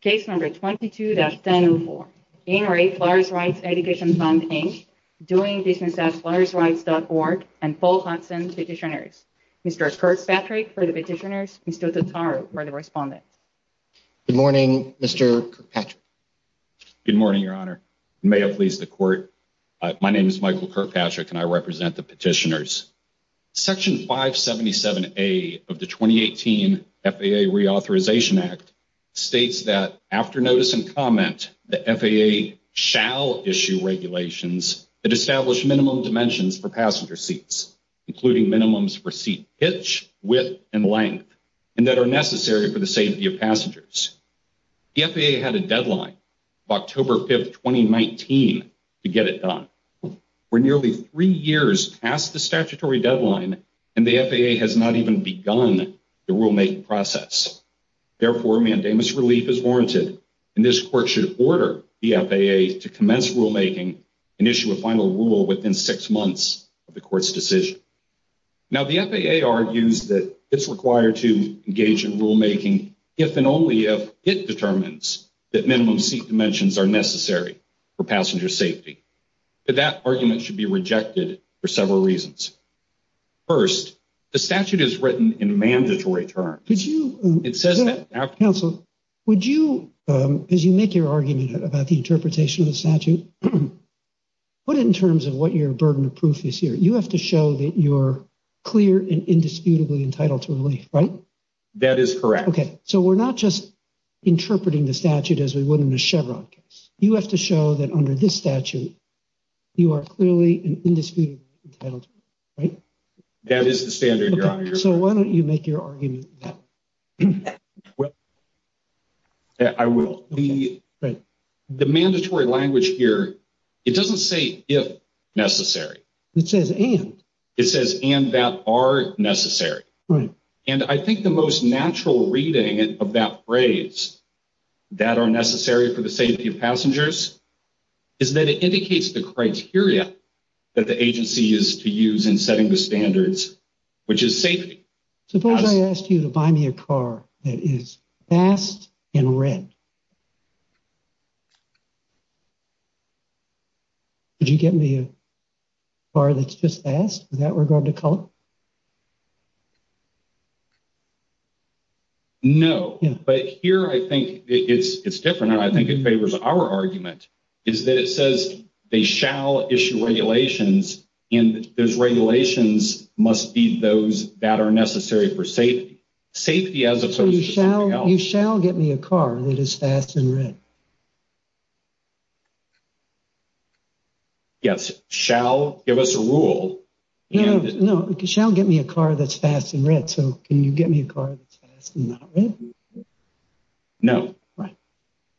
Case number 22-1004, In-Rate Flyers Rights Education Fund, Inc., DoingBusinessAsFlyersRights.org, and Paul Hudson Petitioners. Mr. Kurt Patrick for the petitioners, Mr. Totaru for the respondent. Good morning, Mr. Kirkpatrick. Good morning, Your Honor. May it please the court. My name is Michael Kirkpatrick, and I represent the petitioners. Section 577A of the 2018 FAA Reauthorization Act states that after notice and comment, the FAA shall issue regulations that establish minimum dimensions for passenger seats, including minimums for seat pitch, width, and length, and that are necessary for the safety of passengers. The FAA had a deadline of October 5th, 2019 to get it done. We're nearly three years past the statutory deadline, and the FAA has not even begun the rulemaking process. Therefore, mandamus relief is warranted, and this court should order the FAA to commence rulemaking and issue a final rule within six months of the court's decision. Now, the FAA argues that it's required to engage in rulemaking if and only if it determines that minimum seat dimensions are necessary for passenger safety. But that argument should be rejected for several reasons. First, the statute is written in mandatory terms. It says that. Counsel, would you, as you make your argument about the interpretation of the statute, put it in terms of what your burden of proof is here. You have to show that you're clear and indisputably entitled to relief, right? That is correct. Okay, so we're not just interpreting the statute as we would in a Chevron case. You have to show that under this statute, you are clearly and indisputably entitled, right? That is the standard, Your Honor. So why don't you make your argument? Well, yeah, I will. The mandatory language here, it doesn't say if necessary. It says and. It says and that are necessary. And I think the most natural reading of that phrase, that are necessary for the safety of passengers, is that it indicates the criteria that the agency is to use in setting the standards, which is safety. Suppose I asked you to buy me a car that is fast and red. Would you get me a car that's just fast with that regard to color? No, but here I think it's different. And I think it favors our argument is that it says they shall issue regulations and those regulations must be those that are necessary for safety. Safety as opposed to something else. You shall get me a car that is fast and red. Yes, shall give us a rule. No, shall get me a car that's fast and red. So can you get me a car that's fast and not red? No.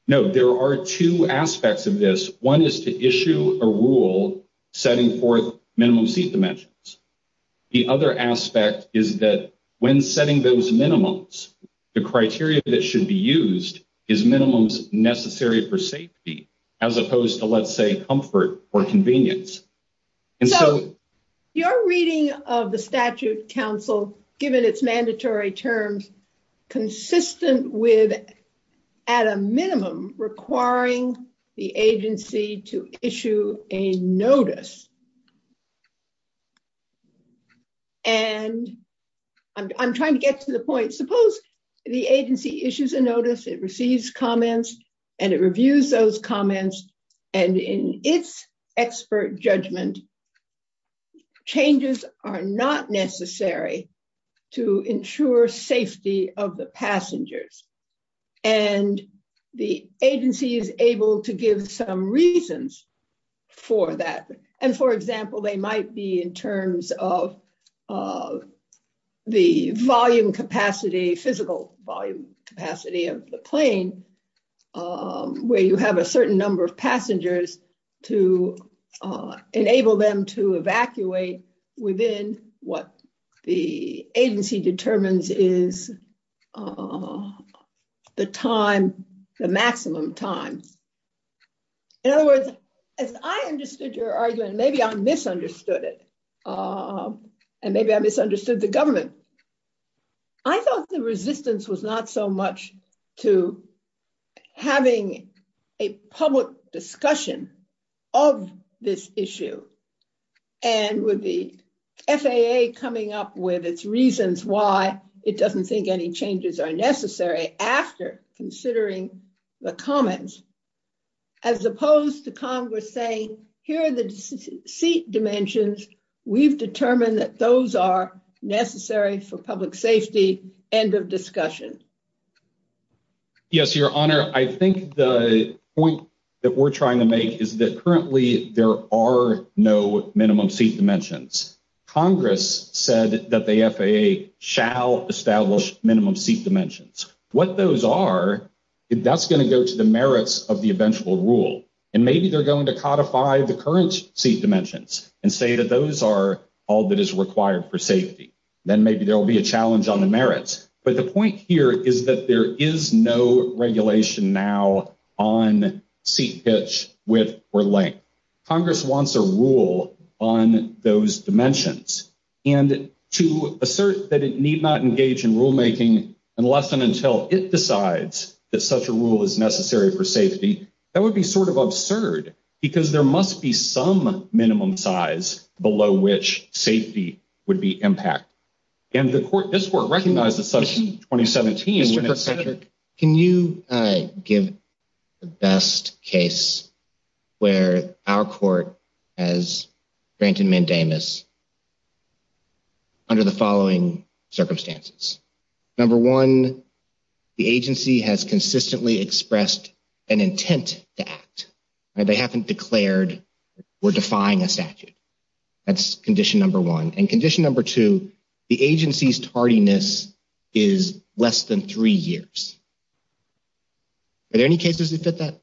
No, there are two aspects of this. One is to issue a rule, setting forth minimum seat dimensions. The other aspect is that when setting those minimums, the criteria that should be used is minimums necessary for safety, as opposed to let's say comfort or convenience. And so- Your reading of the statute council, given its mandatory terms, consistent with at a minimum requiring the agency to issue a notice. And I'm trying to get to the point. Suppose the agency issues a notice, it receives comments and it reviews those comments. And in its expert judgment, changes are not necessary to ensure safety of the passengers. And the agency is able to give some reasons for that. And for example, they might be in terms of the volume capacity, physical volume capacity of the plane, where you have a certain number of passengers to enable them to evacuate within what the agency determines is the time, the maximum time. In other words, as I understood your argument, maybe I misunderstood it. And maybe I misunderstood the government. I thought the resistance was not so much to having a public discussion of this issue. And with the FAA coming up with its reasons why it doesn't think any changes are necessary after considering the comments, as opposed to Congress saying, here are the seat dimensions. We've determined that those are necessary for public safety, end of discussion. Yes, your honor. I think the point that we're trying to make is that currently there are no minimum seat dimensions. Congress said that the FAA shall establish minimum seat dimensions. What those are, that's gonna go to the merits of the eventual rule. And maybe they're going to codify the current seat dimensions and say that those are all that is required for safety. Then maybe there'll be a challenge on the merits. But the point here is that there is no regulation now on seat pitch width or length. Congress wants a rule on those dimensions and to assert that it need not engage in rulemaking unless and until it decides that such a rule is necessary for safety, that would be sort of absurd because there must be some minimum size below which safety would be impact. And the court, this court recognized that such in 2017- Mr. Kirkpatrick, can you give the best case where our court has granted mandamus under the following circumstances. Number one, the agency has consistently expressed an intent to act. They haven't declared we're defying a statute. That's condition number one. And condition number two, the agency's tardiness is less than three years. Are there any cases that fit that?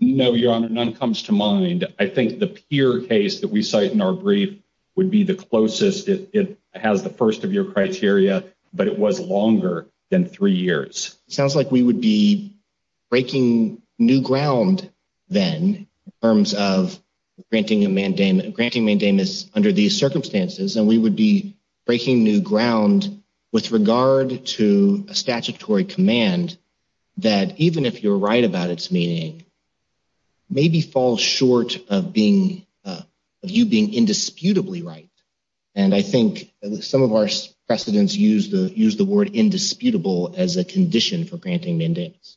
No, Your Honor, none comes to mind. I think the Peer case that we cite in our brief would be the closest. It has the first of your criteria, but it was longer than three years. Sounds like we would be breaking new ground then in terms of granting mandamus under these circumstances. And we would be breaking new ground with regard to a statutory command that even if you're right about its meaning, maybe falls short of you being indisputably right. And I think some of our precedents use the word indisputable as a condition for granting mandamus.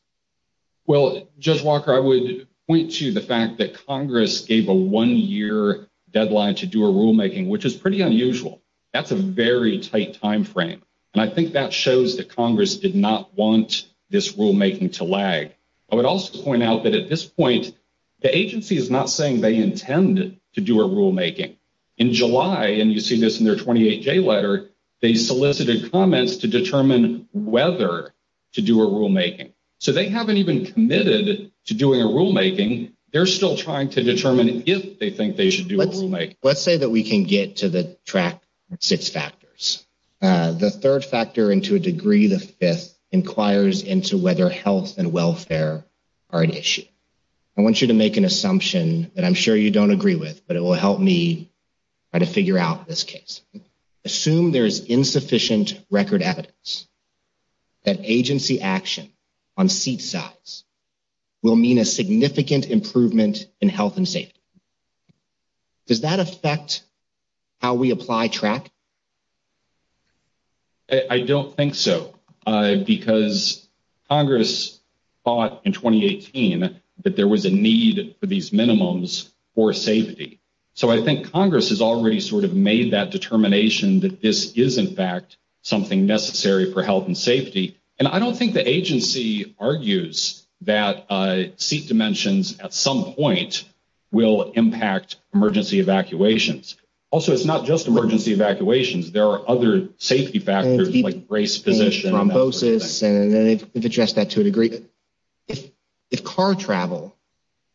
Well, Judge Walker, I would point to the fact that Congress gave a one-year deadline to do a rulemaking, which is pretty unusual. That's a very tight timeframe. And I think that shows that Congress did not want this rulemaking to lag. I would also point out that at this point, the agency is not saying they intend to do a rulemaking. In July, and you see this in their 28-J letter, they solicited comments to determine whether to do a rulemaking. So they haven't even committed to doing a rulemaking. They're still trying to determine if they think they should do a rulemaking. Let's say that we can get to the track six factors. The third factor into a degree, the fifth, inquires into whether health and welfare are an issue. I want you to make an assumption that I'm sure you don't agree with, but it will help me try to figure out this case. Assume there's insufficient record evidence that agency action on seat size will mean a significant improvement in health and safety. Does that affect how we apply track? I don't think so. Because Congress thought in 2018 that there was a need for these minimums for safety. So I think Congress has already sort of made that determination that this is in fact something necessary for health and safety. And I don't think the agency argues that seat dimensions at some point will impact emergency evacuations. Also, it's not just emergency evacuations. There are other safety factors like race, position. Thrombosis, and they've addressed that to a degree. If car travel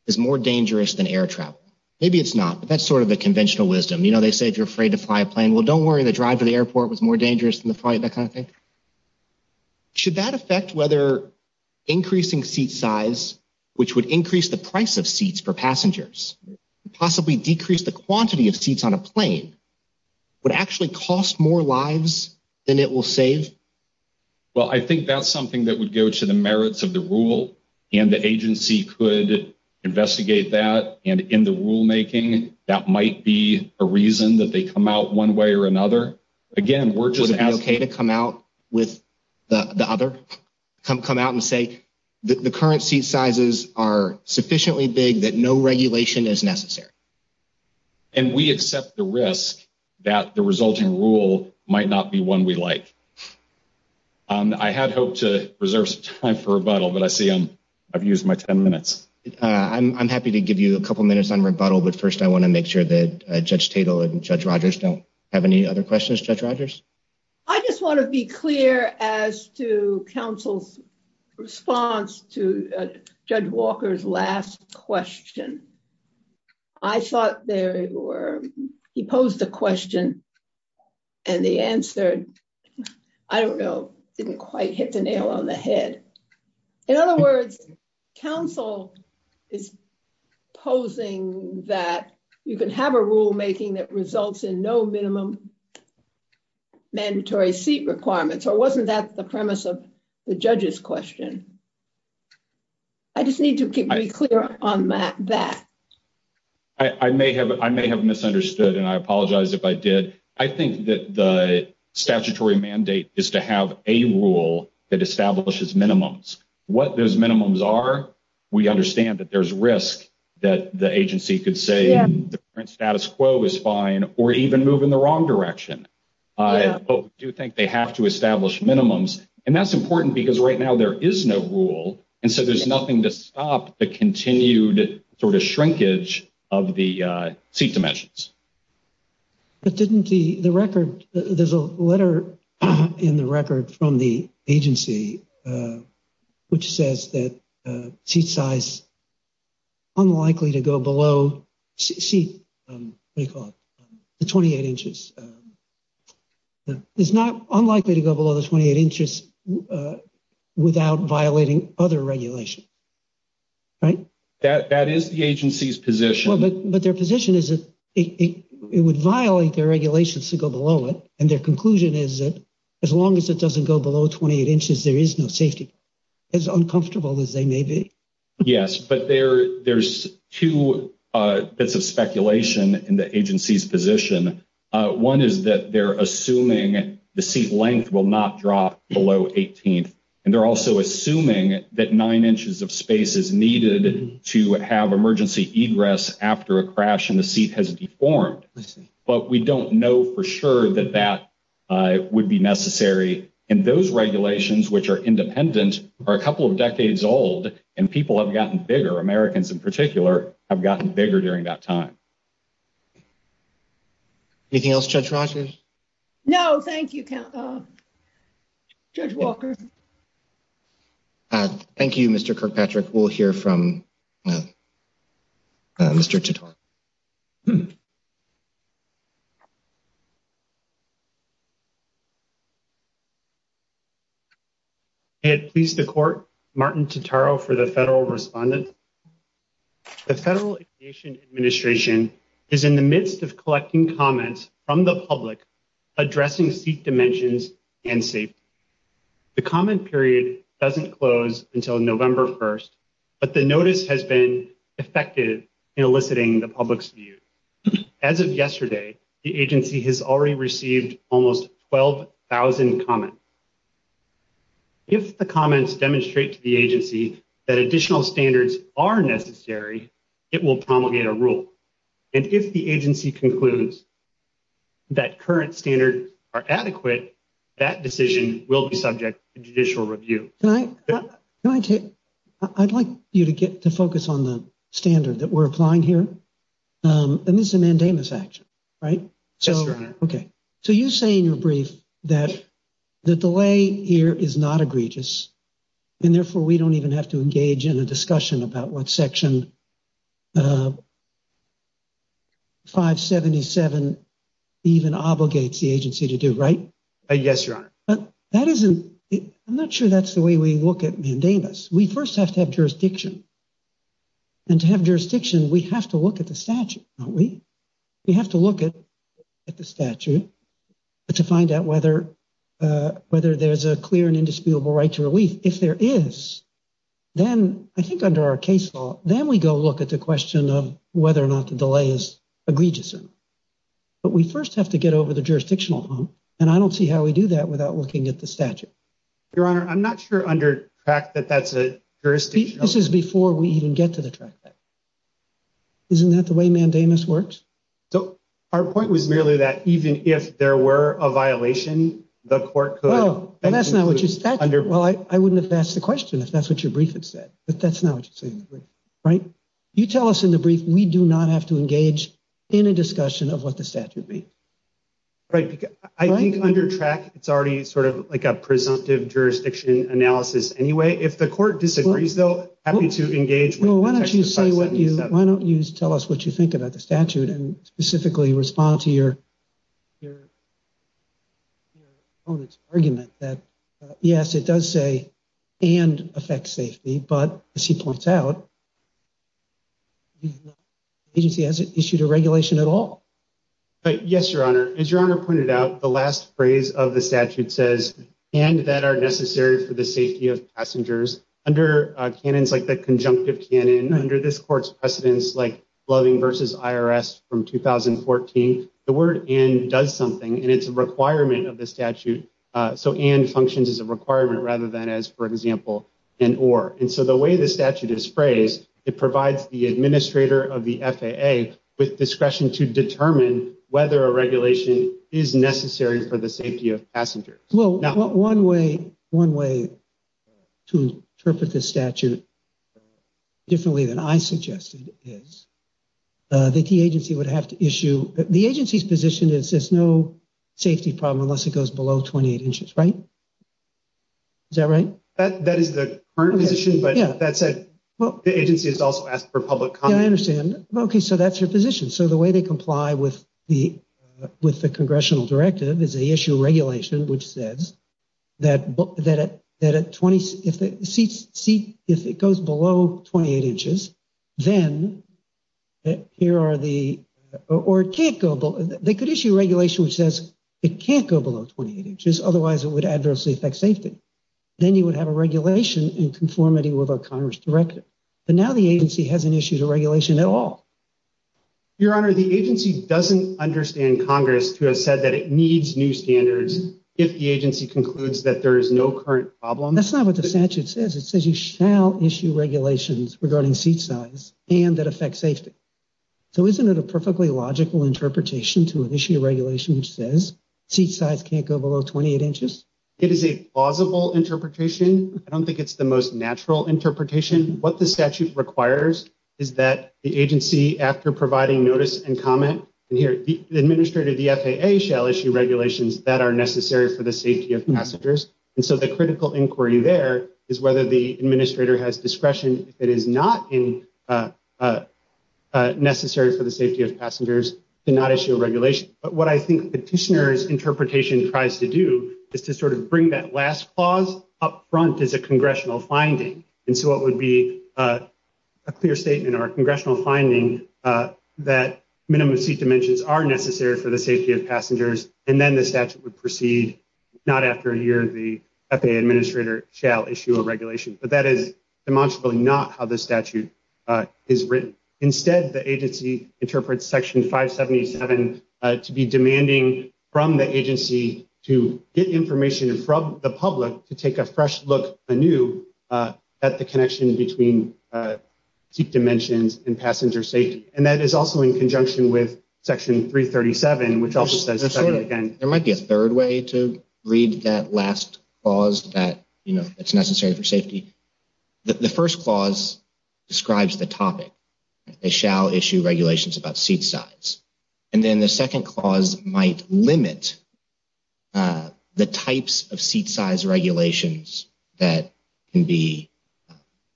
is more dangerous than air travel, maybe it's not, but that's sort of a conventional wisdom. You know, they say if you're afraid to fly a plane, well, don't worry, the drive to the airport was more dangerous than the flight, that kind of thing. Should that affect whether increasing seat size, which would increase the price of seats for passengers, possibly decrease the quantity of seats on a plane would actually cost more lives than it will save? Well, I think that's something that would go to the merits of the rule, and the agency could investigate that. And in the rulemaking, that might be a reason that they come out one way or another. Again, we're just asking- Would it be okay to come out with the other, come out and say the current seat sizes are sufficiently big that no regulation is necessary? And we accept the risk that the resulting rule might not be one we like. I had hoped to reserve some time for rebuttal, but I see I've used my 10 minutes. I'm happy to give you a couple minutes on rebuttal, but first I want to make sure that Judge Tatel and Judge Rogers don't have any other questions. Judge Rogers? I just want to be clear as to counsel's response to Judge Walker's last question. I thought there were, he posed the question and the answer, I don't know, didn't quite hit the nail on the head. In other words, counsel is posing that you can have a rulemaking that results in no minimum mandatory seat requirements, or wasn't that the premise of the judge's question? I just need to keep very clear on that. I may have misunderstood, and I apologize if I did. I think that the statutory mandate is to have a rule that establishes minimums. What those minimums are, we understand that there's risk that the agency could say the current status quo is fine or even move in the wrong direction. I do think they have to establish minimums, and that's important because right now there is no rule, and so there's nothing to stop the continued sort of shrinkage of the seat dimensions. But didn't the record, there's a letter in the record from the agency which says that seat size unlikely to go below seat, what do you call it, the 28 inches. It's not unlikely to go below the 28 inches without violating other regulation, right? That is the agency's position. But their position is that it would violate their regulations to go below it, and their conclusion is that as long as it doesn't go below 28 inches, there is no safety, as uncomfortable as they may be. Yes, but there's two bits of speculation in the agency's position. One is that they're assuming the seat length will not drop below 18th, and they're also assuming that nine inches of space is needed to have emergency egress after a crash and the seat has deformed. But we don't know for sure that that would be necessary, and those regulations which are independent are a couple of decades old, and people have gotten bigger, Americans in particular, have gotten bigger during that time. Anything else, Judge Rogers? No, thank you, Judge Walker. Thank you, Mr. Kirkpatrick. We'll hear from Mr. Totaro. May it please the court, Martin Totaro for the federal respondent. The Federal Aviation Administration is in the midst of collecting comments from the public addressing seat dimensions and safety. The comment period doesn't close until November 1st, but the notice has been effective in eliciting the public's view. As of yesterday, the agency has already received almost 12,000 comments. If the comments demonstrate to the agency that additional standards are necessary, it will promulgate a rule. And if the agency concludes that current standards are adequate, that decision will be subject to judicial review. I'd like you to get to focus on the standard that we're applying here, and this is a mandamus action, right? Yes, Your Honor. So you say in your brief and therefore we don't even have to engage in a discussion about what section 577 even obligates the agency to do, right? Yes, Your Honor. That isn't, I'm not sure that's the way we look at mandamus. We first have to have jurisdiction. And to have jurisdiction, we have to look at the statute, don't we? We have to look at the statute to find out whether there's a clear and indisputable right to relief. If there is, then I think under our case law, then we go look at the question of whether or not the delay is egregious. But we first have to get over the jurisdictional hump. And I don't see how we do that without looking at the statute. Your Honor, I'm not sure under track that that's a jurisdiction. This is before we even get to the track. Isn't that the way mandamus works? So our point was merely that even if there were a violation, the court could- Well, that's not what your statute. Well, I wouldn't have asked the question if that's what your brief had said, but that's not what you're saying, right? You tell us in the brief, we do not have to engage in a discussion of what the statute means. Right, because I think under track, it's already sort of like a presumptive jurisdiction analysis anyway. If the court disagrees though, happy to engage with the text of 5707. Why don't you tell us what you think about the statute and specifically respond to your opponent's argument that yes, it does say and affect safety, but as he points out, agency hasn't issued a regulation at all. Yes, your Honor. As your Honor pointed out, the last phrase of the statute says, and that are necessary for the safety of passengers under canons like the conjunctive canon under this court's precedence, like Loving versus IRS from 2014, the word and does something and it's a requirement of the statute. So and functions as a requirement rather than as for example, an or. And so the way the statute is phrased, it provides the administrator of the FAA with discretion to determine whether a regulation is necessary for the safety of passengers. Well, one way to interpret the statute differently than I suggested is that the agency would have to issue, the agency's position is there's no safety problem unless it goes below 28 inches, right? Is that right? That is the current position, but that said, the agency has also asked for public comment. Yeah, I understand. Okay, so that's your position. So the way they comply with the congressional directive is they issue regulation, which says that at 20, if it goes below 28 inches, then here are the, or it can't go below, they could issue regulation which says it can't go below 28 inches, otherwise it would adversely affect safety. Then you would have a regulation in conformity with our Congress directive. But now the agency hasn't issued a regulation at all. Your honor, the agency doesn't understand Congress to have said that it needs new standards if the agency concludes that there is no current problem. That's not what the statute says. It says you shall issue regulations regarding seat size and that affect safety. So isn't it a perfectly logical interpretation to issue a regulation which says seat size can't go below 28 inches? It is a plausible interpretation. I don't think it's the most natural interpretation. What the statute requires is that the agency after providing notice and comment, and here, the administrator of the FAA shall issue regulations that are necessary for the safety of passengers. And so the critical inquiry there is whether the administrator has discretion if it is not necessary for the safety of passengers to not issue a regulation. But what I think Petitioner's interpretation tries to do is to sort of bring that last clause up front as a congressional finding. And so it would be a clear statement or a congressional finding that minimum seat dimensions are necessary for the safety of passengers. And then the statute would proceed, not after a year the FAA administrator shall issue a regulation. But that is demonstrably not how the statute is written. Instead, the agency interprets Section 577 to be demanding from the agency to get information from the public to take a fresh look anew at the connection between seat dimensions and passenger safety. And that is also in conjunction with Section 337, which also says- There might be a third way to read that last clause that's necessary for safety. The first clause describes the topic. They shall issue regulations about seat size. And then the second clause might limit the types of seat size regulations that can be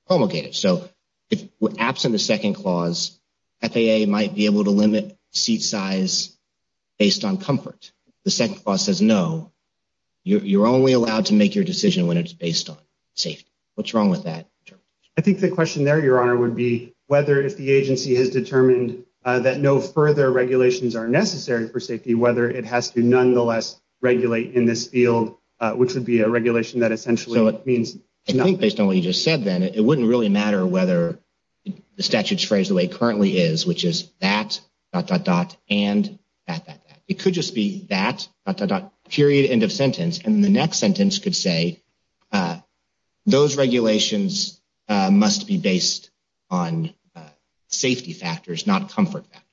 promulgated. So if we're absent the second clause, FAA might be able to limit seat size based on comfort. The second clause says, no, you're only allowed to make your decision when it's based on safety. What's wrong with that? I think the question there, Your Honor, would be whether if the agency has determined that no further regulations are necessary for safety, whether it has to nonetheless regulate in this field, which would be a regulation that essentially means- I think based on what you just said, then, it wouldn't really matter whether the statute's phrased the way it currently is, which is that, dot, dot, dot, and that, that, that. It could just be that, dot, dot, dot, period, end of sentence. And the next sentence could say, those regulations must be based on safety factors, not comfort factors.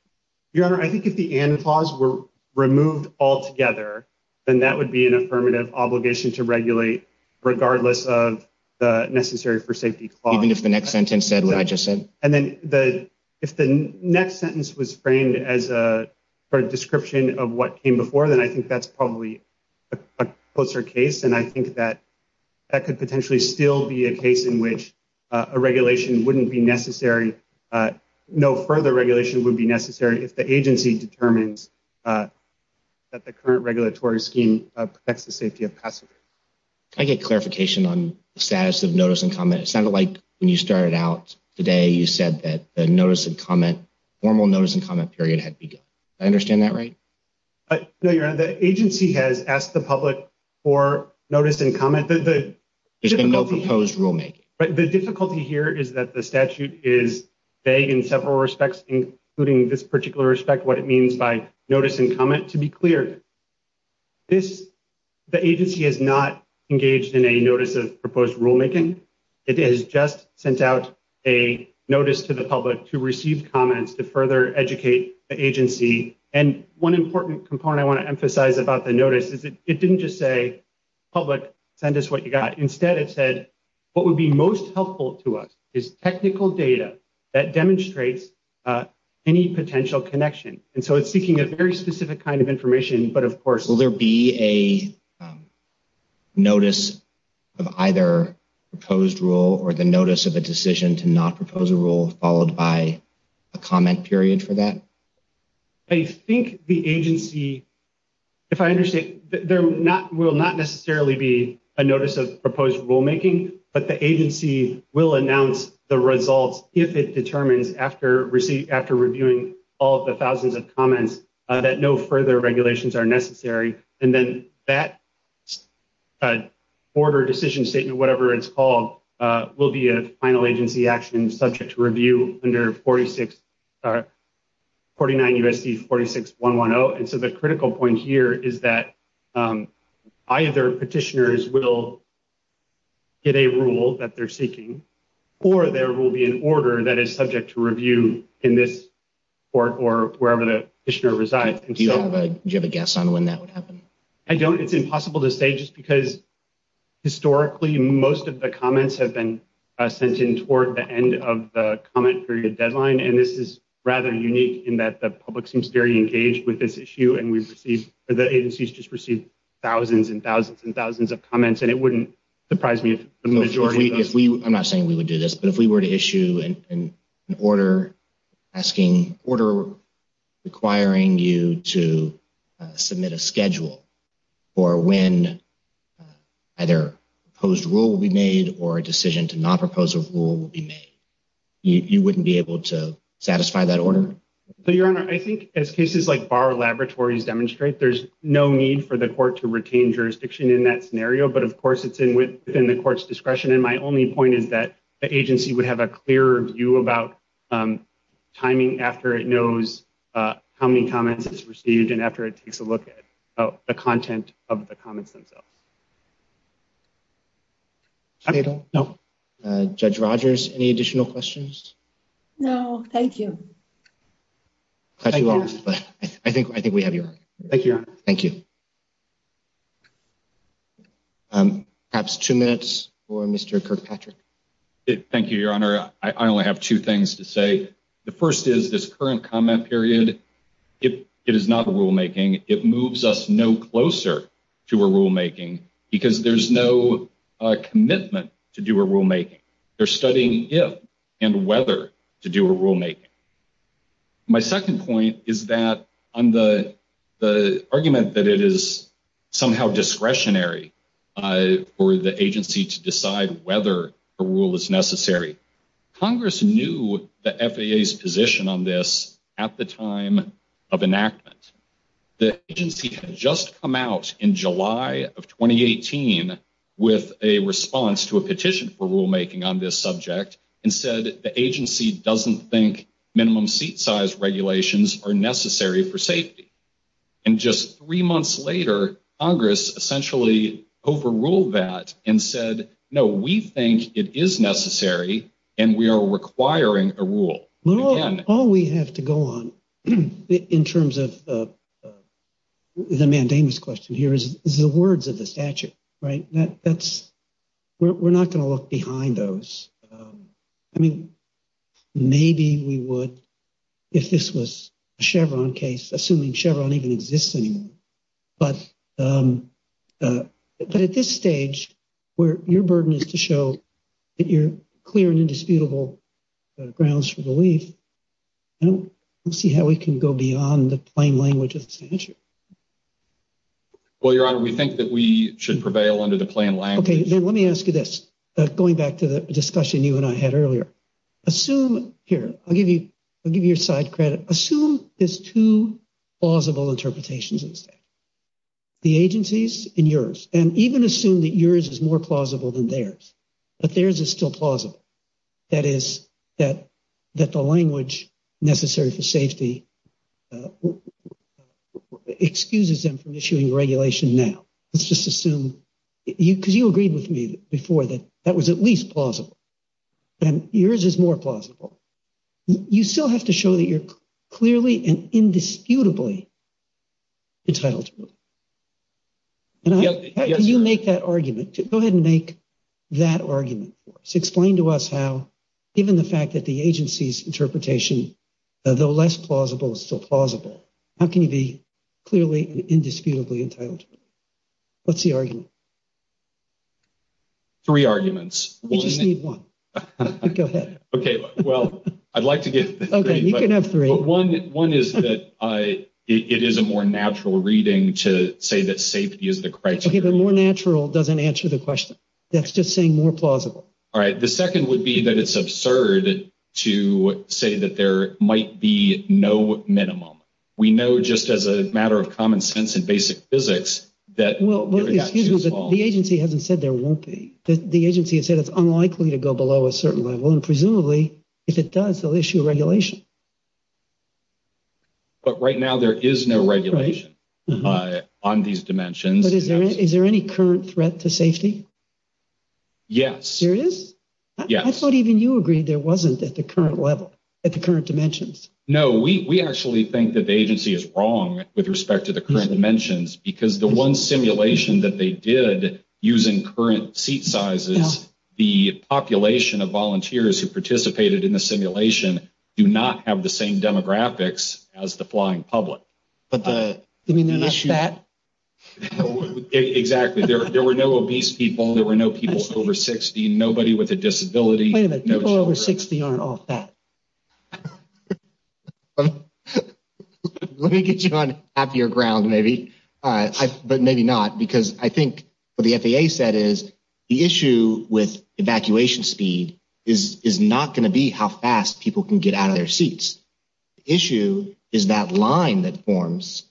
Your Honor, I think if the and clause were removed altogether, then that would be an affirmative obligation to regulate regardless of the necessary for safety clause. Even if the next sentence said what I just said? And then if the next sentence was framed as a description of what came before, then I think that's probably a closer case. And I think that that could potentially still be a case in which a regulation wouldn't be necessary, no further regulation would be necessary if the agency determines that the current regulatory scheme protects the safety of passengers. I get clarification on the status of notice and comment. It sounded like when you started out today, you said that the notice and comment, formal notice and comment period had begun. I understand that, right? No, Your Honor, the agency has asked the public for notice and comment. There's been no proposed rulemaking. The difficulty here is that the statute is vague in several respects, including this particular respect, what it means by notice and comment. To be clear, the agency has not engaged in a notice of proposed rulemaking. It has just sent out a notice to the public to receive comments to further educate the agency. And one important component I wanna emphasize about the notice is it didn't just say, public, send us what you got. Instead it said, what would be most helpful to us is technical data that demonstrates any potential connection. And so it's seeking a very specific kind of information, but of course- Will there be a notice of either proposed rule or the notice of a decision to not propose a rule followed by a comment period for that? I think the agency, if I understand, there will not necessarily be a notice of proposed rulemaking, but the agency will announce the results if it determines after reviewing all of the thousands of comments that no further regulations are necessary. And then that order decision statement, whatever it's called, will be a final agency action subject to review under 49 U.S.C. 46110. And so the critical point here is that either petitioners will get a rule that they're seeking or there will be an order that is subject to review in this court or wherever the petitioner resides. Do you have a guess on when that would happen? I don't. It's impossible to say just because historically, most of the comments have been sent in before the end of the comment period deadline. And this is rather unique in that the public seems very engaged with this issue. And we've received, the agencies just received thousands and thousands and thousands of comments and it wouldn't surprise me if the majority of those- I'm not saying we would do this, but if we were to issue an order asking order requiring you to submit a schedule or when either proposed rule will be made or a decision to not propose a rule will be made, you wouldn't be able to satisfy that order? So, Your Honor, I think as cases like Bar Laboratories demonstrate, there's no need for the court to retain jurisdiction in that scenario, but of course, it's within the court's discretion. And my only point is that the agency would have a clear view about timing after it knows how many comments it's received and after it takes a look at the content of the comments themselves. Thank you. Judge Rogers, any additional questions? No, thank you. Thank you, Your Honor. I think we have your- Thank you, Your Honor. Thank you. Perhaps two minutes for Mr. Kirkpatrick. Thank you, Your Honor. I only have two things to say. The first is this current comment period, it is not a rulemaking. It moves us no closer to a rulemaking because there's no commitment to do a rulemaking. They're studying if and whether to do a rulemaking. My second point is that on the argument that it is somehow discretionary for the agency to decide whether a rule is necessary. Congress knew the FAA's position on this at the time of enactment. The agency had just come out in July of 2018 with a response to a petition for rulemaking on this subject and said the agency doesn't think minimum seat size regulations are necessary for safety. And just three months later, Congress essentially overruled that and said, All we have to go on in terms of the mandamus question here is the words of the statute, right? That's, we're not gonna look behind those. I mean, maybe we would if this was a Chevron case, assuming Chevron even exists anymore. But at this stage where your burden is to show that you're clear and indisputable grounds for belief, I don't see how we can go beyond the plain language of the statute. Well, Your Honor, we think that we should prevail under the plain language. Okay, then let me ask you this, going back to the discussion you and I had earlier. Assume here, I'll give you your side credit. Assume there's two plausible interpretations of the statute. The agency's and yours, and even assume that yours is more plausible than theirs, but theirs is still plausible. That is, that the language necessary for safety excuses them from issuing regulation now. Let's just assume, because you agreed with me before that that was at least plausible. And yours is more plausible. and indisputably entitled to believe. Can you make that argument? Go ahead and make that argument for us. Explain to us how, given the fact that the agency's interpretation, though less plausible, is still plausible. How can you be clearly and indisputably entitled to believe? What's the argument? Three arguments. We just need one. Go ahead. Okay, well, I'd like to get this. Okay, you can have three. One is that it is a more natural reading to say that safety is the criteria. Okay, the more natural doesn't answer the question. That's just saying more plausible. All right, the second would be that it's absurd to say that there might be no minimum. We know just as a matter of common sense and basic physics that- Well, excuse me, but the agency hasn't said there won't be. The agency has said it's unlikely And presumably, if it does, they'll issue a regulation. But right now, there is no regulation on these dimensions. But is there any current threat to safety? Yes. There is? Yes. I thought even you agreed there wasn't at the current level, at the current dimensions. No, we actually think that the agency is wrong with respect to the current dimensions because the one simulation that they did using current seat sizes, the population of volunteers who participated in the simulation do not have the same demographics as the flying public. But the- You mean they're not fat? Exactly. There were no obese people. There were no people over 60, nobody with a disability. Wait a minute, people over 60 aren't all fat. Let me get you on happier ground, maybe, but maybe not, because I think what the FAA said is the issue with evacuation speed is not gonna be how fast people can get out of their seats. The issue is that line that forms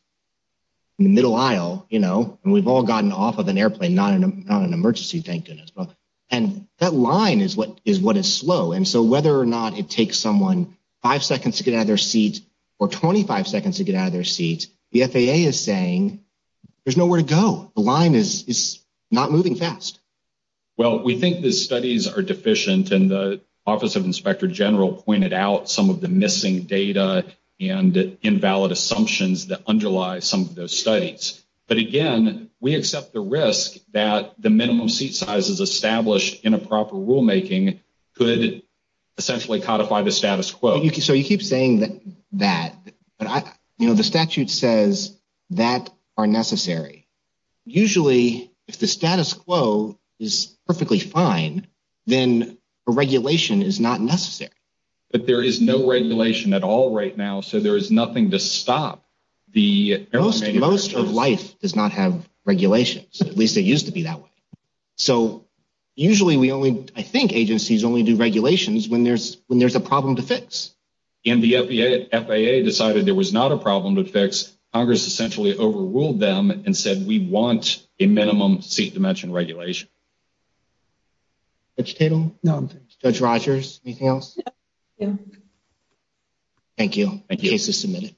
in the middle aisle, you know, and we've all gotten off of an airplane, not an emergency, thank goodness. And that line is what is slow. And so whether or not it takes someone five seconds to get out of their seat or 25 seconds to get out of their seat, the FAA is saying there's nowhere to go. The line is not moving fast. Well, we think the studies are deficient and the Office of Inspector General pointed out some of the missing data and invalid assumptions that underlie some of those studies. But again, we accept the risk that the minimum seat sizes established in a proper rulemaking could essentially codify the status quo. So you keep saying that, but I, you know, the statute says that are necessary. Usually if the status quo is perfectly fine, then a regulation is not necessary. But there is no regulation at all right now. So there is nothing to stop the- Most of life does not have regulations. At least it used to be that way. So usually we only, I think agencies only do regulations when there's a problem to fix. And the FAA decided there was not a problem to fix. Congress essentially overruled them and said, we want a minimum seat dimension regulation. Judge Tatum? No, I'm fine. Judge Rogers, anything else? No. Thank you. Thank you. Case is submitted.